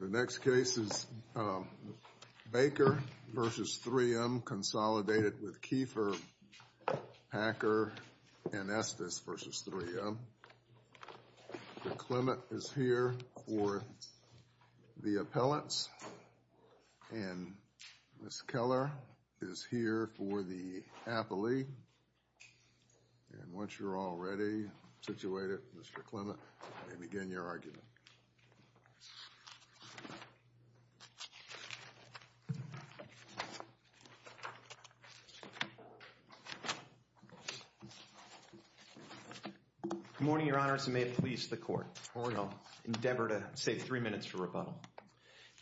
The next case is Baker v. 3M Consolidated with Kiefer, Packer, and Estes v. 3M. Mr. Clement is here for the appellants, and Ms. Keller is here for the appellee. And once you're all ready, situated, Mr. Clement, you may begin your argument. Good morning, your honors, and may it please the court. Good morning. I'll endeavor to save three minutes for rebuttal.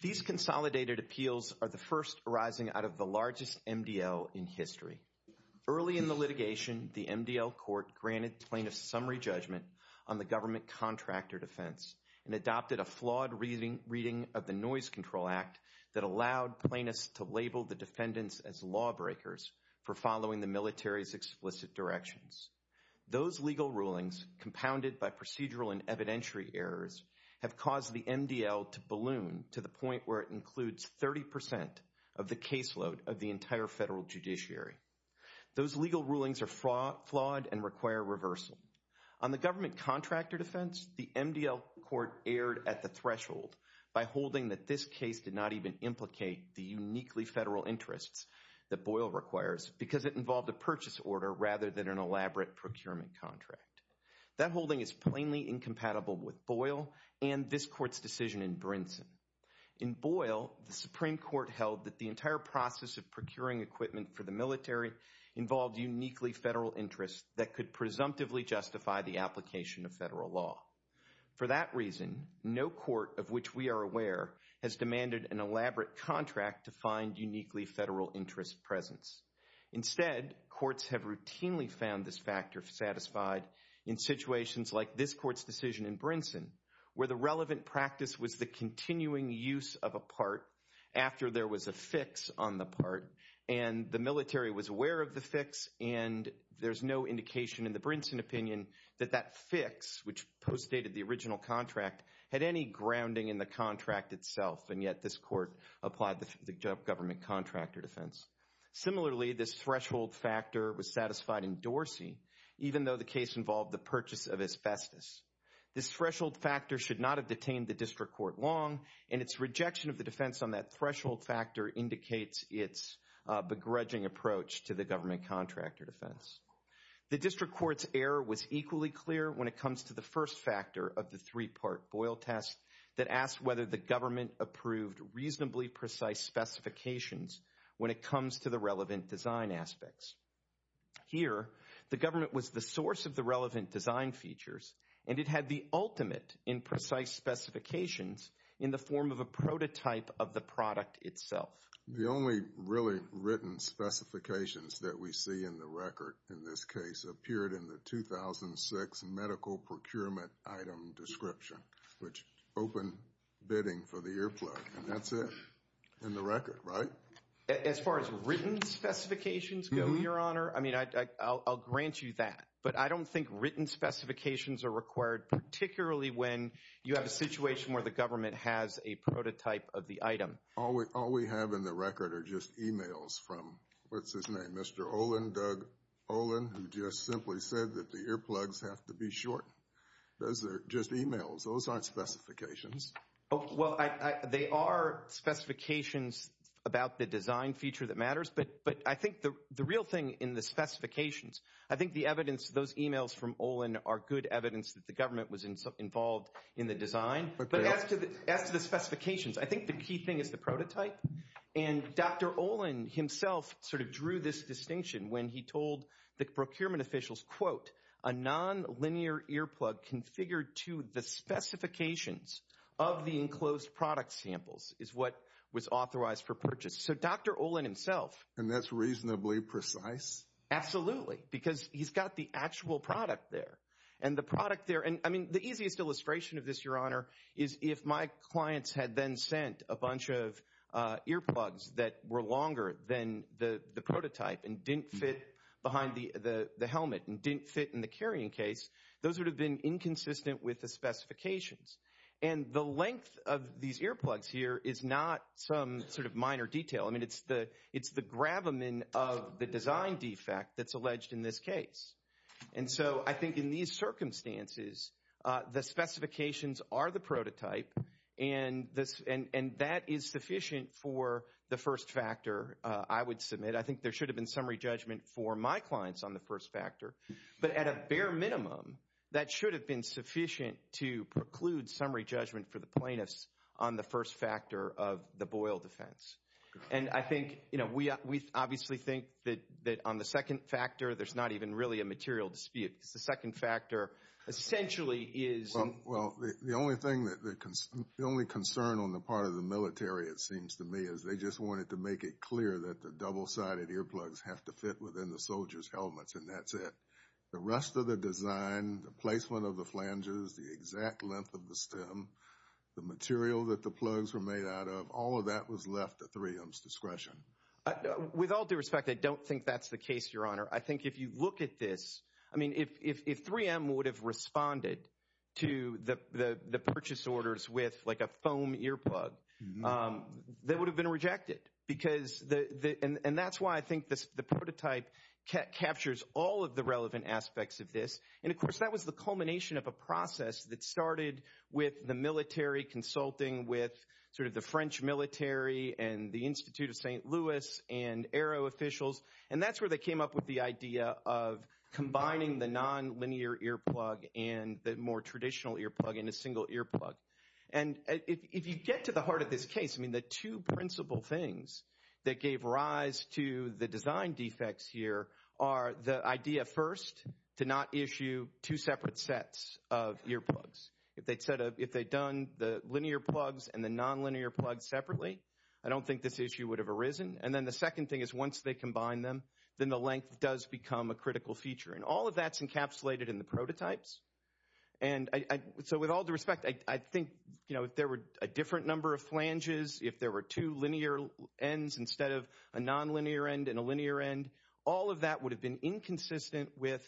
These consolidated appeals are the first arising out of the largest MDL in history. Early in the litigation, the MDL court granted plaintiffs summary judgment on the government contractor defense and adopted a flawed reading of the Noise Control Act that allowed plaintiffs to label the defendants as lawbreakers for following the military's explicit directions. Those legal rulings, compounded by procedural and evidentiary errors, have caused the MDL to balloon to the point where it includes 30% of the caseload of the entire federal judiciary. Those legal rulings are flawed and require reversal. On the government contractor defense, the MDL court erred at the threshold by holding that this case did not even implicate the uniquely federal interests that Boyle requires because it involved a purchase order rather than an elaborate procurement contract. That holding is plainly incompatible with Boyle and this court's decision in Brinson. In Boyle, the Supreme Court held that the entire process of procuring equipment for the military involved uniquely federal interests that could presumptively justify the application of federal law. For that reason, no court of which we are aware has demanded an elaborate contract to find uniquely federal interest presence. Instead, courts have routinely found this factor satisfied in situations like this court's decision in Brinson where the relevant practice was the continuing use of a part after there was a fix on the part and the military was aware of the fix and there's no indication in the Brinson opinion that that fix, which postdated the original contract, had any grounding in the contract itself and yet this court applied the government contractor defense. Similarly, this threshold factor was satisfied in Dorsey even though the case involved the purchase of asbestos. This threshold factor should not have detained the district court long and its rejection of the defense on that threshold factor indicates its begrudging approach to the government contractor defense. The district court's error was equally clear when it comes to the first factor of the three-part Boyle test that asked whether the government approved reasonably precise specifications when it comes to the relevant design aspects. Here, the government was the source of the relevant design features and it had the ultimate in precise specifications in the form of a prototype of the product itself. The only really written specifications that we see in the record in this case appeared in the 2006 medical procurement item description, which opened bidding for the earplug, and that's it in the record, right? As far as written specifications go, Your Honor, I mean, I'll grant you that, but I don't think written specifications are required, particularly when you have a situation where the government has a prototype of the item. All we have in the record are just emails from, what's his name, Mr. Olin, Doug Olin, who just simply said that the earplugs have to be short. Those are just emails. Those aren't specifications. Well, they are specifications about the design feature that matters, but I think the real thing in the specifications, I think the evidence, those emails from Olin are good evidence that the government was involved in the design. But as to the specifications, I think the key thing is the prototype, and Dr. Olin himself sort of drew this distinction when he told the procurement officials, quote, a non-linear earplug configured to the specifications of the enclosed product samples is what was authorized for purchase. So Dr. Olin himself— And that's reasonably precise? Absolutely, because he's got the actual product there, and the product there— I mean, the easiest illustration of this, Your Honor, is if my clients had then sent a bunch of earplugs that were longer than the prototype and didn't fit behind the helmet and didn't fit in the carrying case, those would have been inconsistent with the specifications. And the length of these earplugs here is not some sort of minor detail. I mean, it's the gravamen of the design defect that's alleged in this case. And so I think in these circumstances, the specifications are the prototype, and that is sufficient for the first factor I would submit. I think there should have been summary judgment for my clients on the first factor. But at a bare minimum, that should have been sufficient to preclude summary judgment for the plaintiffs on the first factor of the Boyle defense. And I think, you know, we obviously think that on the second factor, there's not even really a material dispute. The second factor essentially is— Well, the only concern on the part of the military, it seems to me, is they just wanted to make it clear that the double-sided earplugs have to fit within the soldier's helmets, and that's it. The rest of the design, the placement of the flanges, the exact length of the stem, the material that the plugs were made out of, all of that was left at 3M's discretion. With all due respect, I don't think that's the case, Your Honor. I think if you look at this— I mean, if 3M would have responded to the purchase orders with, like, a foam earplug, that would have been rejected. And that's why I think the prototype captures all of the relevant aspects of this. And, of course, that was the culmination of a process that started with the military consulting with sort of the French military and the Institute of St. Louis and Aero officials, and that's where they came up with the idea of combining the nonlinear earplug and the more traditional earplug in a single earplug. And if you get to the heart of this case, I mean, the two principal things that gave rise to the design defects here are the idea, first, to not issue two separate sets of earplugs. If they'd said—if they'd done the linear plugs and the nonlinear plugs separately, I don't think this issue would have arisen. And then the second thing is once they combine them, then the length does become a critical feature. And all of that's encapsulated in the prototypes. And so with all due respect, I think, you know, if there were a different number of flanges, if there were two linear ends instead of a nonlinear end and a linear end, all of that would have been inconsistent with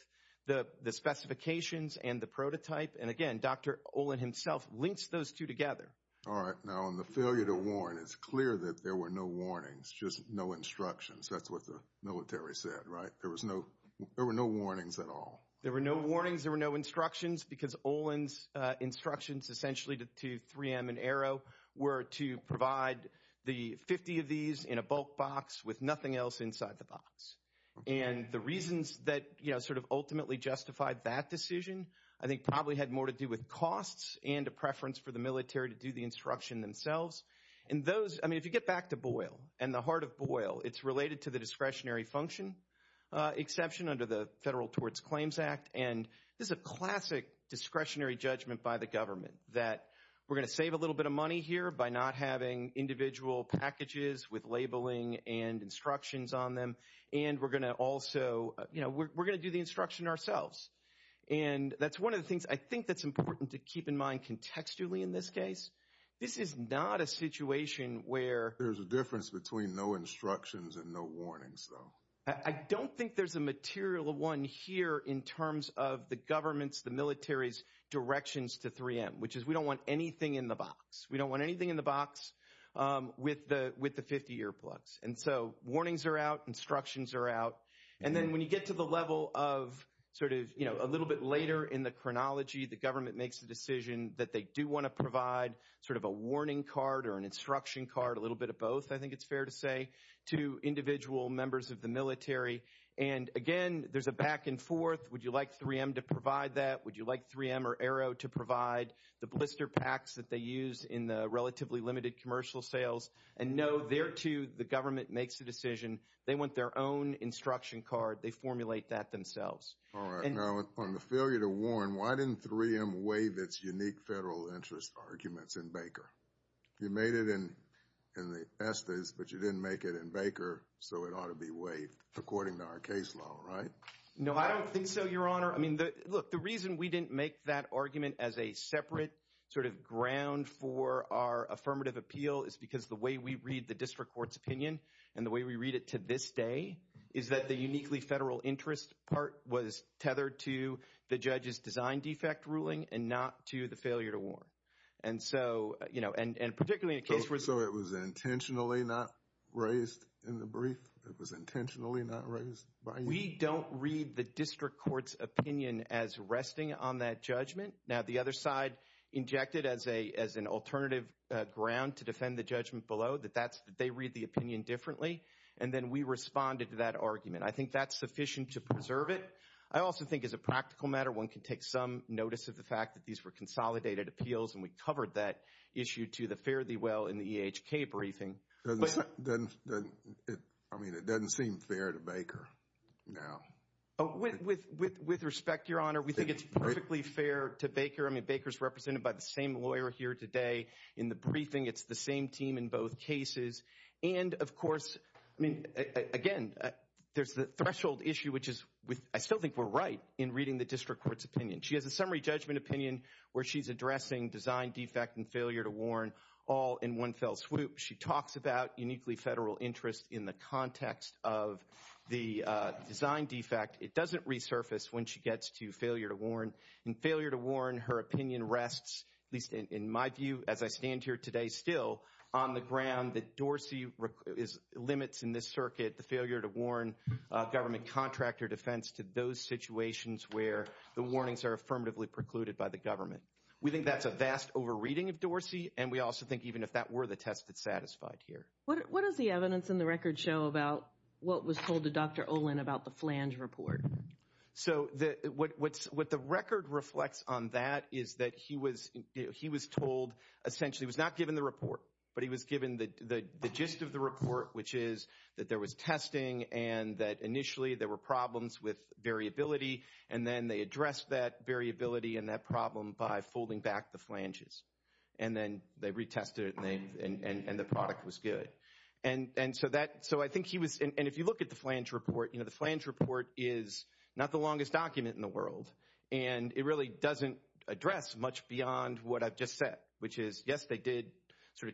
the specifications and the prototype. And, again, Dr. Olin himself links those two together. All right. Now, on the failure to warn, it's clear that there were no warnings, just no instructions. That's what the military said, right? There was no—there were no warnings at all. There were no warnings. There were no instructions because Olin's instructions essentially to 3M and Arrow were to provide the 50 of these in a bulk box with nothing else inside the box. And the reasons that, you know, sort of ultimately justified that decision, I think probably had more to do with costs and a preference for the military to do the instruction themselves. And those—I mean, if you get back to Boyle and the heart of Boyle, it's related to the discretionary function exception under the Federal Towards Claims Act and this is a classic discretionary judgment by the government that we're going to save a little bit of money here by not having individual packages with labeling and instructions on them, and we're going to also—you know, we're going to do the instruction ourselves. And that's one of the things I think that's important to keep in mind contextually in this case. This is not a situation where— There's a difference between no instructions and no warnings, though. I don't think there's a material one here in terms of the government's, the military's directions to 3M, which is we don't want anything in the box. We don't want anything in the box with the 50-year plugs. And so warnings are out, instructions are out, and then when you get to the level of sort of, you know, a little bit later in the chronology, the government makes the decision that they do want to provide sort of a warning card or an instruction card, a little bit of both, I think it's fair to say, to individual members of the military. And again, there's a back and forth. Would you like 3M to provide that? Would you like 3M or Aero to provide the blister packs that they use in the relatively limited commercial sales? And no, there, too, the government makes the decision. They want their own instruction card. They formulate that themselves. All right. Now, on the failure to warn, why didn't 3M waive its unique federal interest arguments in Baker? You made it in the Estes, but you didn't make it in Baker, so it ought to be waived according to our case law, right? No, I don't think so, Your Honor. I mean, look, the reason we didn't make that argument as a separate sort of ground for our affirmative appeal is because the way we read the district court's opinion and the way we read it to this day is that the uniquely federal interest part was tethered to the judge's design defect ruling and not to the failure to warn. And so, you know, and particularly in a case where— So it was intentionally not raised in the brief? It was intentionally not raised by you? We don't read the district court's opinion as resting on that judgment. Now, the other side injected as an alternative ground to defend the judgment below that they read the opinion differently, and then we responded to that argument. I think that's sufficient to preserve it. I also think as a practical matter, one can take some notice of the fact that these were consolidated appeals, and we covered that issue to the fare thee well in the EHK briefing. I mean, it doesn't seem fair to Baker now. With respect, Your Honor, we think it's perfectly fair to Baker. I mean, Baker's represented by the same lawyer here today in the briefing. It's the same team in both cases. And, of course, I mean, again, there's the threshold issue, which is I still think we're right in reading the district court's opinion. She has a summary judgment opinion where she's addressing design defect and failure to warn all in one fell swoop. She talks about uniquely federal interest in the context of the design defect. It doesn't resurface when she gets to failure to warn. In failure to warn, her opinion rests, at least in my view as I stand here today still, on the ground that Dorsey limits in this circuit the failure to warn government contractor defense to those situations where the warnings are affirmatively precluded by the government. We think that's a vast overreading of Dorsey, and we also think even if that were the test, it's satisfied here. What does the evidence in the record show about what was told to Dr. Olin about the flange report? So what the record reflects on that is that he was told, essentially, he was not given the report, but he was given the gist of the report, which is that there was testing and that initially there were problems with variability, and then they addressed that variability and that problem by folding back the flanges. And then they retested it, and the product was good. So I think he was, and if you look at the flange report, the flange report is not the longest document in the world, and it really doesn't address much beyond what I've just said, which is, yes, they did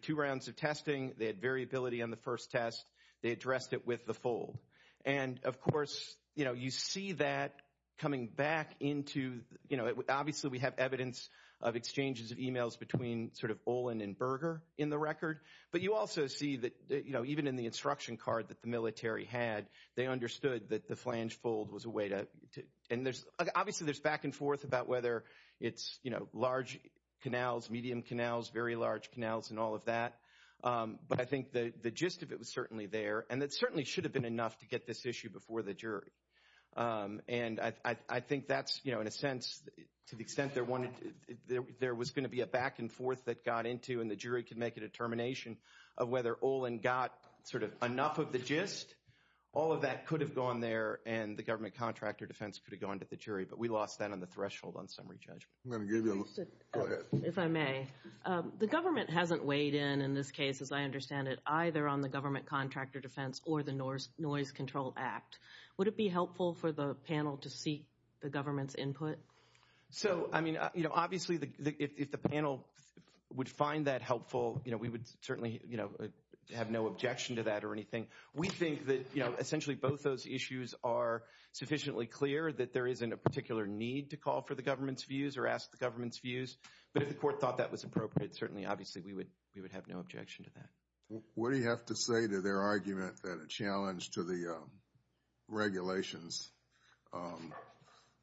two rounds of testing. They had variability on the first test. They addressed it with the fold. And, of course, you see that coming back into, obviously, we have evidence of exchanges of emails between Olin and Berger in the record, but you also see that even in the instruction card that the military had, they understood that the flange fold was a way to, and obviously there's back and forth about whether it's large canals, medium canals, very large canals, and all of that. But I think the gist of it was certainly there, and it certainly should have been enough to get this issue before the jury. And I think that's, you know, in a sense, to the extent there was going to be a back and forth that got into, and the jury could make a determination of whether Olin got sort of enough of the gist, all of that could have gone there, and the government contractor defense could have gone to the jury. But we lost that on the threshold on summary judgment. I'm going to give you a look. Go ahead. If I may, the government hasn't weighed in in this case, as I understand it, either on the government contractor defense or the Noise Control Act. Would it be helpful for the panel to seek the government's input? So, I mean, you know, obviously if the panel would find that helpful, you know, we would certainly, you know, have no objection to that or anything. We think that, you know, essentially both those issues are sufficiently clear, that there isn't a particular need to call for the government's views or ask the government's views. But if the court thought that was appropriate, certainly obviously we would have no objection to that. What do you have to say to their argument that a challenge to the regulations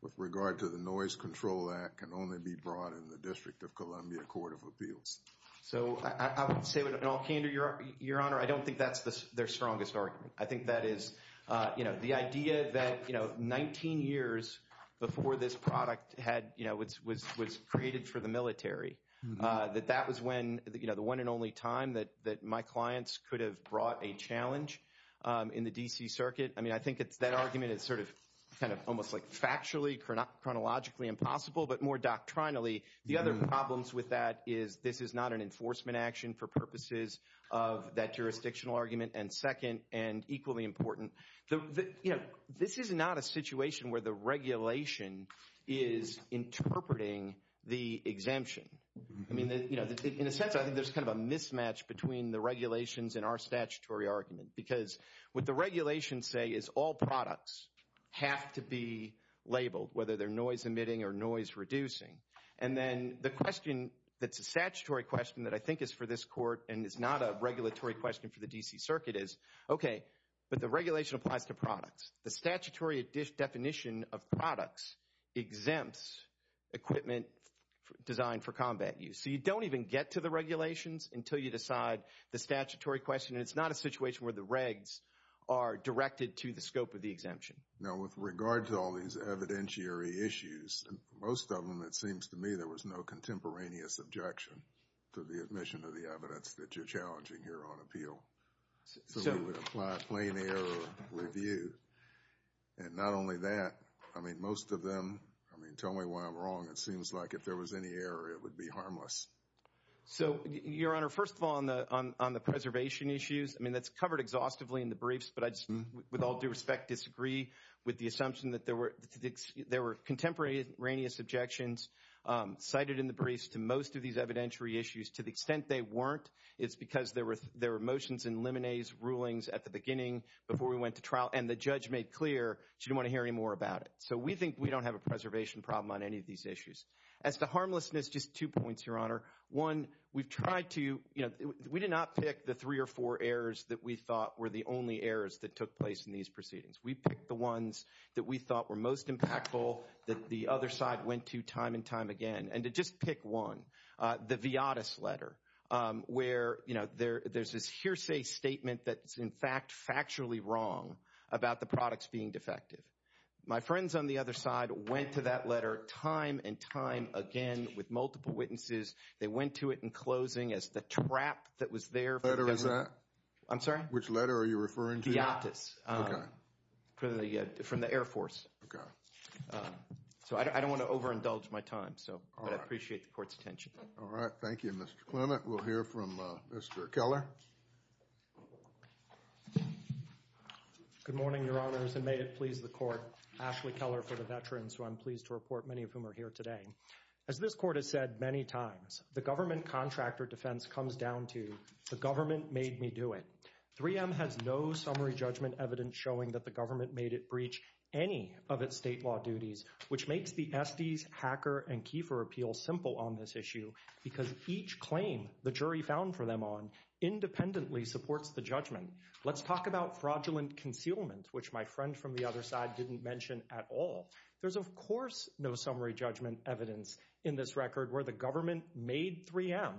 with regard to the Noise Control Act can only be brought in the District of Columbia Court of Appeals? So, I would say with all candor, Your Honor, I don't think that's their strongest argument. I think that is, you know, the idea that, you know, 19 years before this product had, you know, was created for the military, that that was when, you know, the one and only time that my clients could have brought a challenge in the D.C. Circuit. I mean, I think that argument is sort of kind of almost like factually, chronologically impossible, but more doctrinally the other problems with that is this is not an enforcement action for purposes of that jurisdictional argument, and second, and equally important, you know, this is not a situation where the regulation is interpreting the exemption. I mean, you know, in a sense, I think there's kind of a mismatch between the regulations and our statutory argument because what the regulations say is all products have to be labeled, whether they're noise-emitting or noise-reducing. And then the question that's a statutory question that I think is for this court and is not a regulatory question for the D.C. Circuit is, okay, but the regulation applies to products. The statutory definition of products exempts equipment designed for combat use. So you don't even get to the regulations until you decide the statutory question, and it's not a situation where the regs are directed to the scope of the exemption. Now, with regard to all these evidentiary issues, most of them, it seems to me, there was no contemporaneous objection to the admission of the evidence that you're challenging here on appeal. So we would apply a plain error review. And not only that, I mean, most of them, I mean, tell me why I'm wrong. It seems like if there was any error, it would be harmless. So, Your Honor, first of all, on the preservation issues, I mean, that's covered exhaustively in the briefs, but I just with all due respect disagree with the assumption that there were contemporaneous objections cited in the briefs to most of these evidentiary issues. To the extent they weren't, it's because there were motions in limine's rulings at the beginning before we went to trial, and the judge made clear she didn't want to hear any more about it. So we think we don't have a preservation problem on any of these issues. As to harmlessness, just two points, Your Honor. One, we've tried to, you know, we did not pick the three or four errors that we thought were the only errors that took place in these proceedings. We picked the ones that we thought were most impactful that the other side went to time and time again. And to just pick one, the Viotis letter, where, you know, there's this hearsay statement that's, in fact, factually wrong about the products being defective. My friends on the other side went to that letter time and time again with multiple witnesses. They went to it in closing as the trap that was there. What letter was that? I'm sorry? Which letter are you referring to? Viotis. Okay. From the Air Force. Okay. So I don't want to overindulge my time, but I appreciate the Court's attention. All right. Thank you, Mr. Clement. We'll hear from Mr. Keller. Good morning, Your Honors, and may it please the Court. Ashley Keller for the Veterans, who I'm pleased to report, many of whom are here today. As this Court has said many times, the government contractor defense comes down to the government made me do it. 3M has no summary judgment evidence showing that the government made it breach any of its state law duties, which makes the Estes, Hacker, and Kiefer appeals simple on this issue, because each claim the jury found for them on independently supports the judgment. Let's talk about fraudulent concealment, which my friend from the other side didn't mention at all. There's, of course, no summary judgment evidence in this record where the government made 3M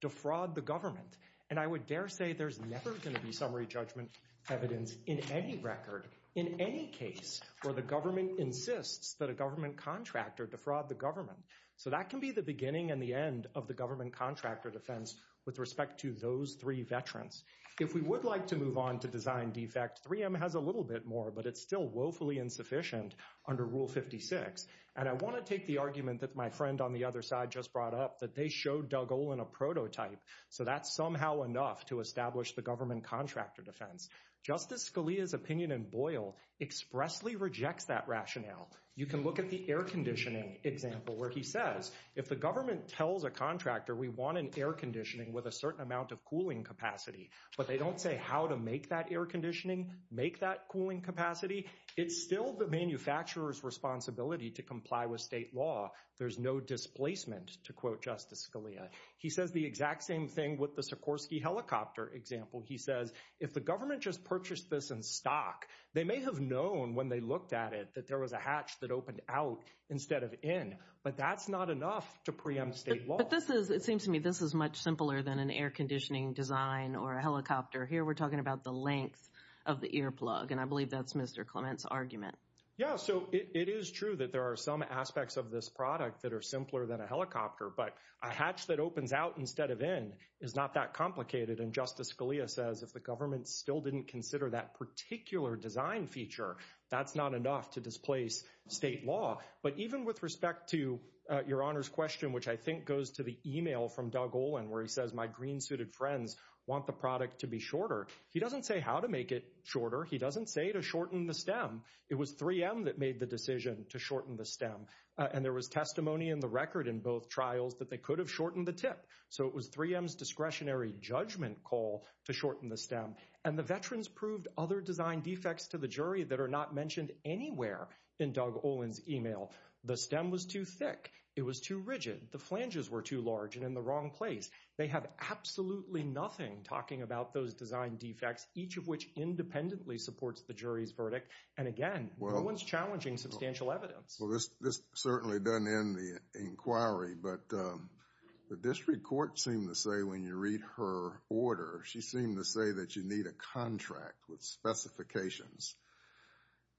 defraud the government, and I would dare say there's never going to be summary judgment evidence in any record, in any case, where the government insists that a government contractor defraud the government. So that can be the beginning and the end of the government contractor defense with respect to those three veterans. If we would like to move on to design defect, 3M has a little bit more, but it's still woefully insufficient under Rule 56, and I want to take the argument that my friend on the other side just brought up, that they showed Doug Olin a prototype, so that's somehow enough to establish the government contractor defense. Justice Scalia's opinion in Boyle expressly rejects that rationale. You can look at the air conditioning example where he says, if the government tells a contractor we want an air conditioning with a certain amount of cooling capacity, but they don't say how to make that air conditioning, make that cooling capacity, it's still the manufacturer's responsibility to comply with state law. There's no displacement, to quote Justice Scalia. He says the exact same thing with the Sikorsky helicopter example. He says if the government just purchased this in stock, they may have known when they looked at it that there was a hatch that opened out instead of in, but that's not enough to preempt state law. But this is, it seems to me, this is much simpler than an air conditioning design or a helicopter. Here we're talking about the length of the earplug, and I believe that's Mr. Clement's argument. Yeah, so it is true that there are some aspects of this product that are simpler than a helicopter, but a hatch that opens out instead of in is not that complicated. And Justice Scalia says if the government still didn't consider that particular design feature, that's not enough to displace state law. But even with respect to Your Honor's question, which I think goes to the email from Doug Olin where he says, my green suited friends want the product to be shorter. He doesn't say how to make it shorter. He doesn't say to shorten the stem. It was 3M that made the decision to shorten the stem. And there was testimony in the record in both trials that they could have shortened the tip. So it was 3M's discretionary judgment call to shorten the stem. And the veterans proved other design defects to the jury that are not mentioned anywhere in Doug Olin's email. The stem was too thick. It was too rigid. The flanges were too large and in the wrong place. They have absolutely nothing talking about those design defects, each of which independently supports the jury's verdict. And again, no one's challenging substantial evidence. Well, this certainly doesn't end the inquiry. But the district court seemed to say when you read her order, she seemed to say that you need a contract with specifications.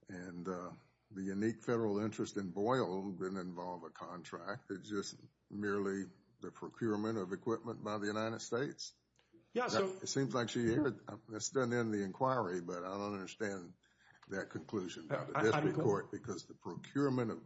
And the unique federal interest in Boyle didn't involve a contract. It's just merely the procurement of equipment by the United States? Yeah. It seems like she heard. That doesn't end the inquiry. But I don't understand that conclusion. Because the procurement of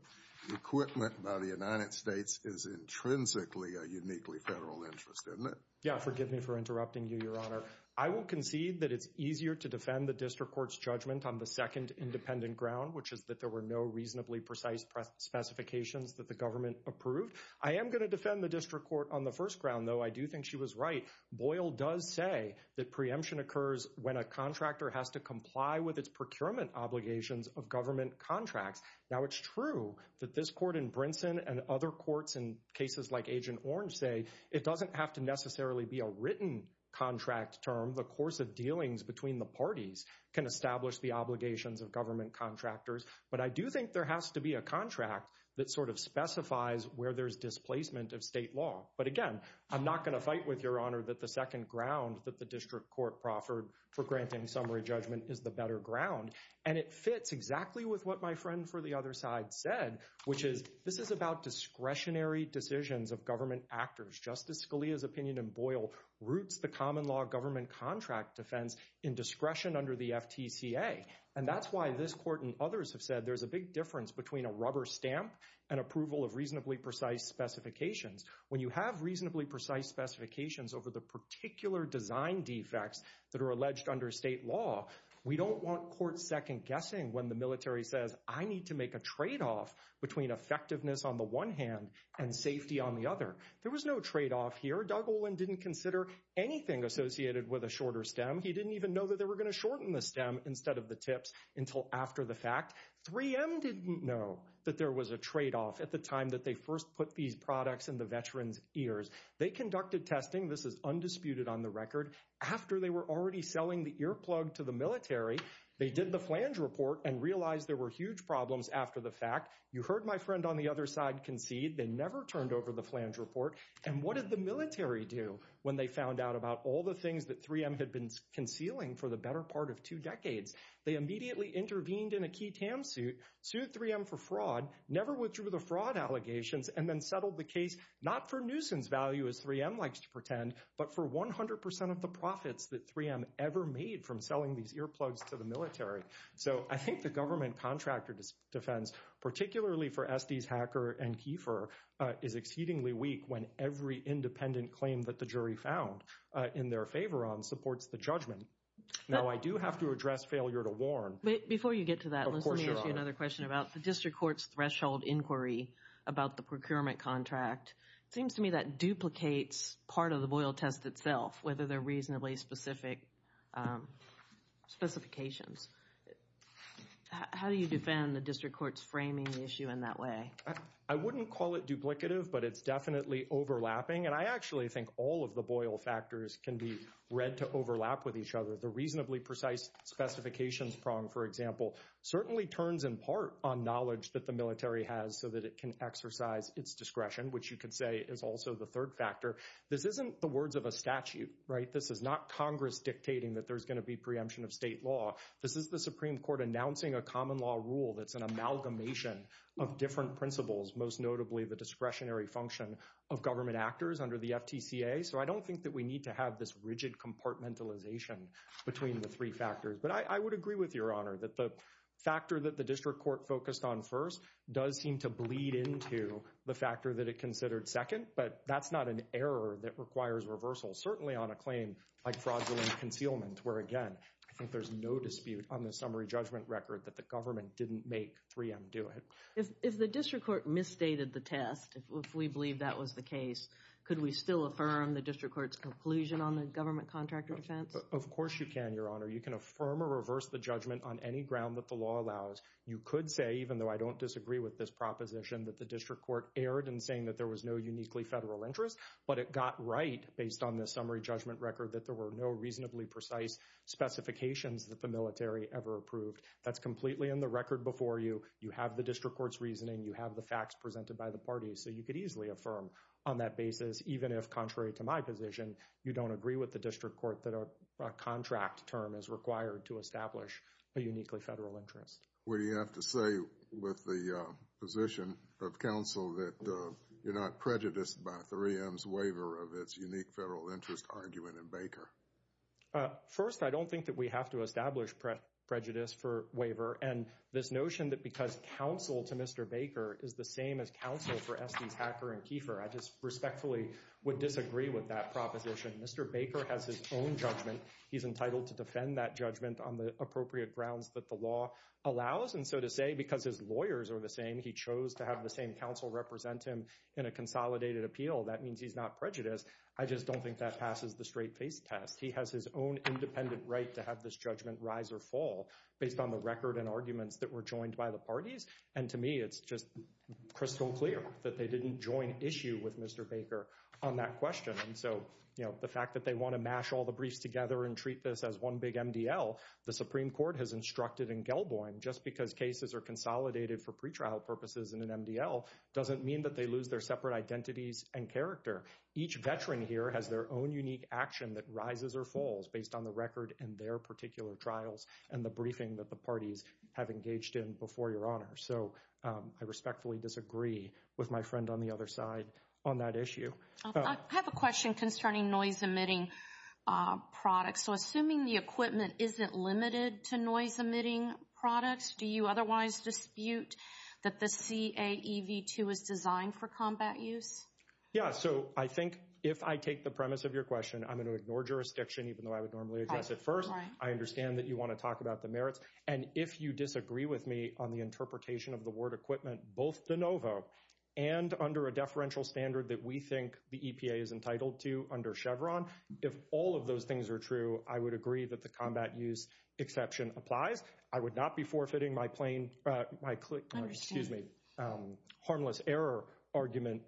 equipment by the United States is intrinsically a uniquely federal interest, isn't it? Yeah, forgive me for interrupting you, Your Honor. I will concede that it's easier to defend the district court's judgment on the second independent ground, which is that there were no reasonably precise specifications that the government approved. I am going to defend the district court on the first ground, though. I do think she was right. Boyle does say that preemption occurs when a contractor has to comply with its procurement obligations of government contracts. Now, it's true that this court in Brinson and other courts in cases like Agent Orange say it doesn't have to necessarily be a written contract term. The course of dealings between the parties can establish the obligations of government contractors. But I do think there has to be a contract that sort of specifies where there's displacement of state law. But, again, I'm not going to fight with Your Honor that the second ground that the district court proffered for granting summary judgment is the better ground. And it fits exactly with what my friend for the other side said, which is this is about discretionary decisions of government actors. Justice Scalia's opinion in Boyle roots the common law government contract defense in discretion under the FTCA. And that's why this court and others have said there's a big difference between a rubber stamp and approval of reasonably precise specifications. When you have reasonably precise specifications over the particular design defects that are alleged under state law, we don't want court second guessing when the military says, I need to make a tradeoff between effectiveness on the one hand and safety on the other. There was no tradeoff here. Doug Olin didn't consider anything associated with a shorter stem. He didn't even know that they were going to shorten the stem instead of the tips until after the fact. 3M didn't know that there was a tradeoff at the time that they first put these products in the veterans ears. They conducted testing. This is undisputed on the record. After they were already selling the earplug to the military, they did the flange report and realized there were huge problems after the fact. You heard my friend on the other side concede they never turned over the flange report. And what did the military do when they found out about all the things that 3M had been concealing for the better part of two decades? They immediately intervened in a key TAM suit, sued 3M for fraud, never withdrew the fraud allegations, and then settled the case not for nuisance value, as 3M likes to pretend, but for 100 percent of the profits that 3M ever made from selling these earplugs to the military. So I think the government contractor defense, particularly for Estes, Hacker, and Kiefer, is exceedingly weak when every independent claim that the jury found in their favor on supports the judgment. Now, I do have to address failure to warn. Before you get to that, let me ask you another question about the district court's threshold inquiry about the procurement contract. It seems to me that duplicates part of the Boyle test itself, whether they're reasonably specific specifications. How do you defend the district court's framing the issue in that way? I wouldn't call it duplicative, but it's definitely overlapping. And I actually think all of the Boyle factors can be read to overlap with each other. The reasonably precise specifications prong, for example, certainly turns in part on knowledge that the military has so that it can exercise its discretion, which you could say is also the third factor. This isn't the words of a statute, right? This is not Congress dictating that there's going to be preemption of state law. This is the Supreme Court announcing a common law rule that's an amalgamation of different principles, most notably the discretionary function of government actors under the FTCA. So I don't think that we need to have this rigid compartmentalization between the three factors. But I would agree with Your Honor that the factor that the district court focused on first does seem to bleed into the factor that it considered second. But that's not an error that requires reversal, certainly on a claim like fraudulent concealment, where, again, I think there's no dispute on the summary judgment record that the government didn't make 3M do it. If the district court misstated the test, if we believe that was the case, could we still affirm the district court's conclusion on the government contractor defense? Of course you can, Your Honor. You can affirm or reverse the judgment on any ground that the law allows. You could say, even though I don't disagree with this proposition, that the district court erred in saying that there was no uniquely federal interest. But it got right based on the summary judgment record that there were no reasonably precise specifications that the military ever approved. That's completely in the record before you. You have the district court's reasoning. You have the facts presented by the parties. So you could easily affirm on that basis, even if contrary to my position, you don't agree with the district court that a contract term is required to establish a uniquely federal interest. What do you have to say with the position of counsel that you're not prejudiced by 3M's waiver of its unique federal interest argument in Baker? First, I don't think that we have to establish prejudice for waiver. And this notion that because counsel to Mr. Baker is the same as counsel for Estes, Hacker, and Kiefer, I just respectfully would disagree with that proposition. Mr. Baker has his own judgment. He's entitled to defend that judgment on the appropriate grounds that the law allows. And so to say, because his lawyers are the same, he chose to have the same counsel represent him in a consolidated appeal, that means he's not prejudiced. I just don't think that passes the straight face test. He has his own independent right to have this judgment rise or fall based on the record and arguments that were joined by the parties. And to me, it's just crystal clear that they didn't join issue with Mr. Baker on that question. And so, you know, the fact that they want to mash all the briefs together and treat this as one big MDL, the Supreme Court has instructed in Gelboim, just because cases are consolidated for pretrial purposes in an MDL doesn't mean that they lose their separate identities and character. Each veteran here has their own unique action that rises or falls based on the record and their particular trials and the briefing that the parties have engaged in before your honor. So I respectfully disagree with my friend on the other side on that issue. I have a question concerning noise emitting products. So assuming the equipment isn't limited to noise emitting products, do you otherwise dispute that the CAEV2 is designed for combat use? Yeah. So I think if I take the premise of your question, I'm going to ignore jurisdiction, even though I would normally address it first. I understand that you want to talk about the merits. And if you disagree with me on the interpretation of the word equipment, both de novo and under a deferential standard that we think the EPA is entitled to under Chevron. If all of those things are true, I would agree that the combat use exception applies. I would not be forfeiting my plain excuse me, harmless error argument.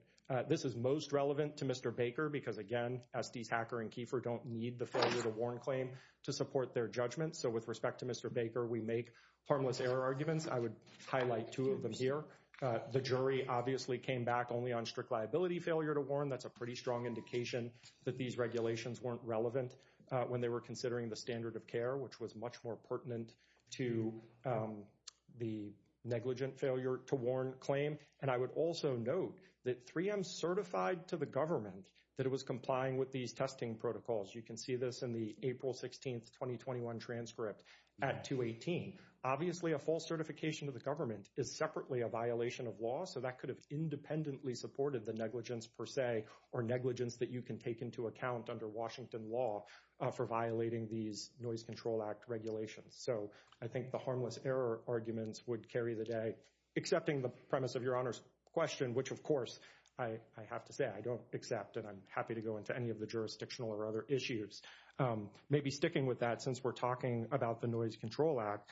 This is most relevant to Mr. Baker because, again, Estes, Hacker and Kiefer don't need the failure to warn claim to support their judgment. So with respect to Mr. Baker, we make harmless error arguments. I would highlight two of them here. The jury obviously came back only on strict liability failure to warn. That's a pretty strong indication that these regulations weren't relevant when they were considering the standard of care, which was much more pertinent to the negligent failure to warn claim. And I would also note that 3M certified to the government that it was complying with these testing protocols. You can see this in the April 16th, 2021 transcript at 218. Obviously, a false certification of the government is separately a violation of law. So that could have independently supported the negligence per se or negligence that you can take into account under Washington law for violating these noise control act regulations. So I think the harmless error arguments would carry the day. Accepting the premise of your honor's question, which, of course, I have to say I don't accept and I'm happy to go into any of the jurisdictional or other issues. Maybe sticking with that since we're talking about the noise control act.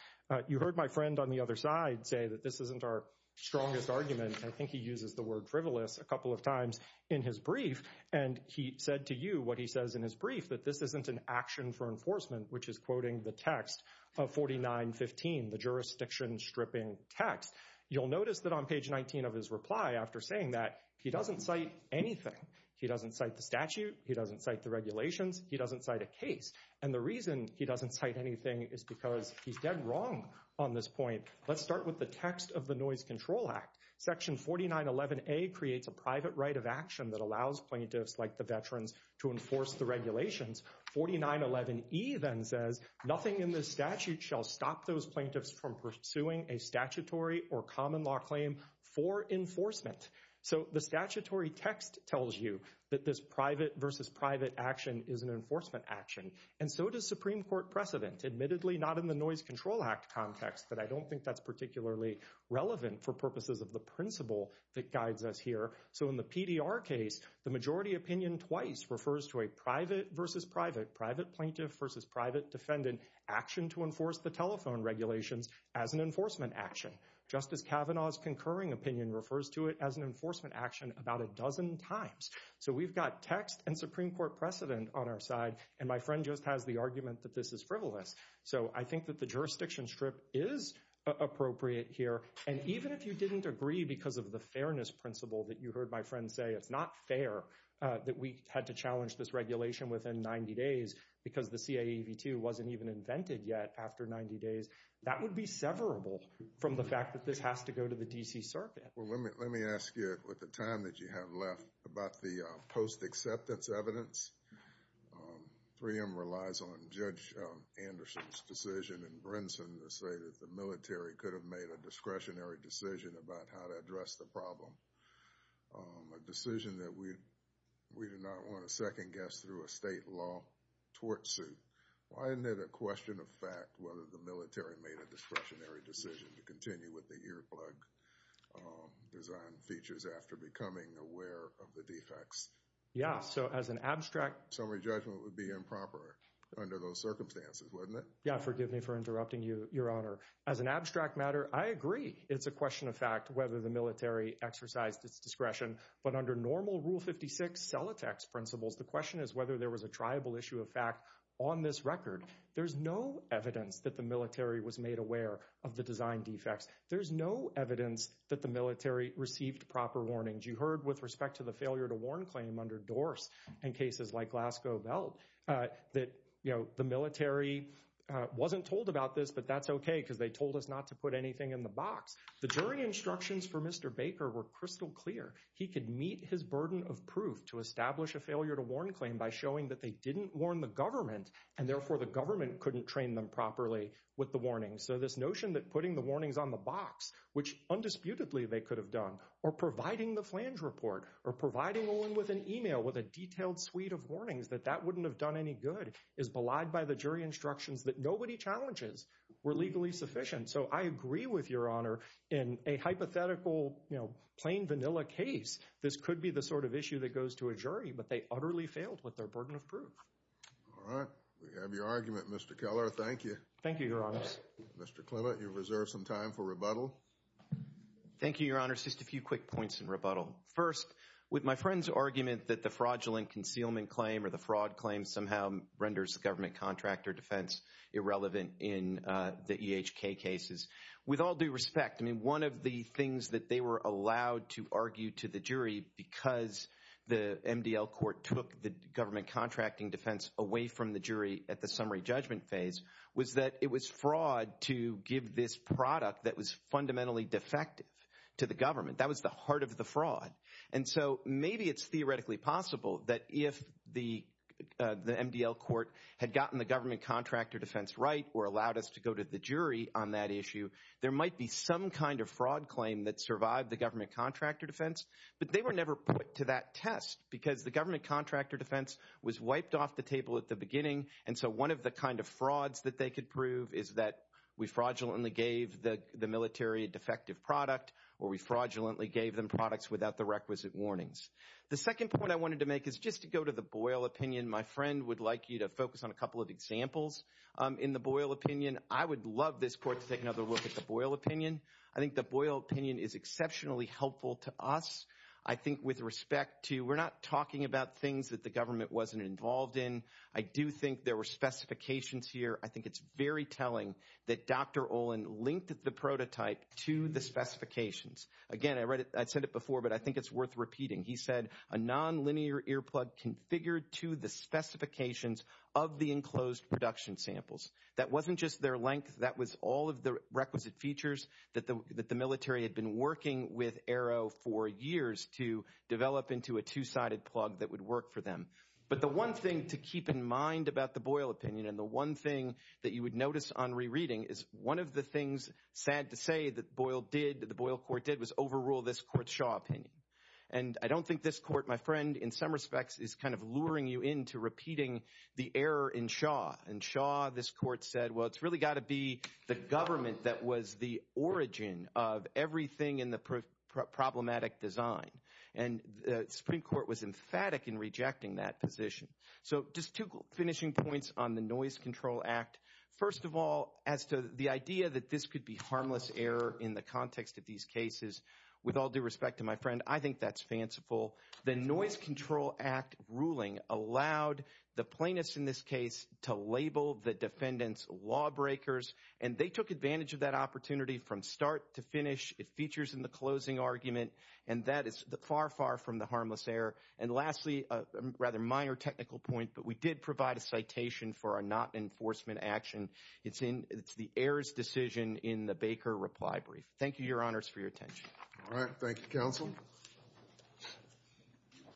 You heard my friend on the other side say that this isn't our strongest argument. I think he uses the word frivolous a couple of times in his brief. And he said to you what he says in his brief, that this isn't an action for enforcement, which is quoting the text of 49 15, the jurisdiction stripping text. You'll notice that on page 19 of his reply after saying that he doesn't cite anything. He doesn't cite the statute. He doesn't cite the regulations. He doesn't cite a case. And the reason he doesn't cite anything is because he's dead wrong on this point. Let's start with the text of the noise control act. Section 49 11 a creates a private right of action that allows plaintiffs like the veterans to enforce the regulations. 49 11 even says nothing in this statute shall stop those plaintiffs from pursuing a statutory or common law claim for enforcement. So the statutory text tells you that this private versus private action is an enforcement action. And so does Supreme Court precedent, admittedly not in the noise control act context. But I don't think that's particularly relevant for purposes of the principle that guides us here. So in the PDR case, the majority opinion twice refers to a private versus private private plaintiff versus private defendant action to enforce the telephone regulations as an enforcement action. Justice Kavanaugh's concurring opinion refers to it as an enforcement action about a dozen times. So we've got text and Supreme Court precedent on our side. And my friend just has the argument that this is frivolous. So I think that the jurisdiction strip is appropriate here. And even if you didn't agree because of the fairness principle that you heard my friend say, it's not fair that we had to challenge this regulation within 90 days. Because the CAEV2 wasn't even invented yet after 90 days. That would be severable from the fact that this has to go to the D.C. Circuit. Well, let me let me ask you at the time that you have left about the post acceptance evidence. 3M relies on Judge Anderson's decision and Brinson to say that the military could have made a discretionary decision about how to address the problem. A decision that we we do not want to second guess through a state law tort suit. Why isn't it a question of fact whether the military made a discretionary decision to continue with the earplug design features after becoming aware of the defects? Yeah. So as an abstract summary judgment would be improper under those circumstances, wouldn't it? Yeah. Forgive me for interrupting you, Your Honor. As an abstract matter, I agree it's a question of fact whether the military exercised its discretion. But under normal Rule 56 Celotex principles, the question is whether there was a triable issue of fact on this record. There's no evidence that the military was made aware of the design defects. There's no evidence that the military received proper warnings. You heard with respect to the failure to warn claim under doors and cases like Glasgow Belt that the military wasn't told about this. But that's OK, because they told us not to put anything in the box. The jury instructions for Mr. Baker were crystal clear. He could meet his burden of proof to establish a failure to warn claim by showing that they didn't warn the government. And therefore, the government couldn't train them properly with the warning. So this notion that putting the warnings on the box, which undisputedly they could have done, or providing the flange report, or providing Owen with an email with a detailed suite of warnings that that wouldn't have done any good, is belied by the jury instructions that nobody challenges were legally sufficient. So I agree with Your Honor in a hypothetical, plain vanilla case, this could be the sort of issue that goes to a jury. But they utterly failed with their burden of proof. All right. We have your argument, Mr. Keller. Thank you. Thank you, Your Honors. Mr. Clement, you've reserved some time for rebuttal. Thank you, Your Honors. Just a few quick points in rebuttal. First, with my friend's argument that the fraudulent concealment claim or the fraud claim somehow renders the government contractor defense irrelevant in the EHK cases, with all due respect, I mean, one of the things that they were allowed to argue to the jury because the MDL court took the government contracting defense away from the jury at the summary judgment phase, was that it was fraud to give this product that was fundamentally defective to the government. That was the heart of the fraud. And so maybe it's theoretically possible that if the MDL court had gotten the government contractor defense right or allowed us to go to the jury on that issue, there might be some kind of fraud claim that survived the government contractor defense. But they were never put to that test because the government contractor defense was wiped off the table at the beginning. And so one of the kind of frauds that they could prove is that we fraudulently gave the military a defective product or we fraudulently gave them products without the requisite warnings. The second point I wanted to make is just to go to the Boyle opinion. My friend would like you to focus on a couple of examples in the Boyle opinion. I would love this court to take another look at the Boyle opinion. I think the Boyle opinion is exceptionally helpful to us. I think with respect to, we're not talking about things that the government wasn't involved in. I do think there were specifications here. I think it's very telling that Dr. Olin linked the prototype to the specifications. Again, I read it, I said it before, but I think it's worth repeating. He said a non-linear earplug configured to the specifications of the enclosed production samples. That wasn't just their length, that was all of the requisite features that the military had been working with Arrow for years to develop into a two-sided plug that would work for them. But the one thing to keep in mind about the Boyle opinion and the one thing that you would notice on rereading is one of the things, sad to say, that the Boyle court did was overrule this court's Shaw opinion. And I don't think this court, my friend, in some respects is kind of luring you into repeating the error in Shaw. In Shaw, this court said, well, it's really got to be the government that was the origin of everything in the problematic design. And the Supreme Court was emphatic in rejecting that position. So just two finishing points on the Noise Control Act. First of all, as to the idea that this could be harmless error in the context of these cases, with all due respect to my friend, I think that's fanciful. The Noise Control Act ruling allowed the plaintiffs in this case to label the defendants lawbreakers, and they took advantage of that opportunity from start to finish. It features in the closing argument, and that is far, far from the harmless error. And lastly, a rather minor technical point, but we did provide a citation for a not-enforcement action. It's the errors decision in the Baker reply brief. Thank you, Your Honors, for your attention. All right. Thank you, Counsel.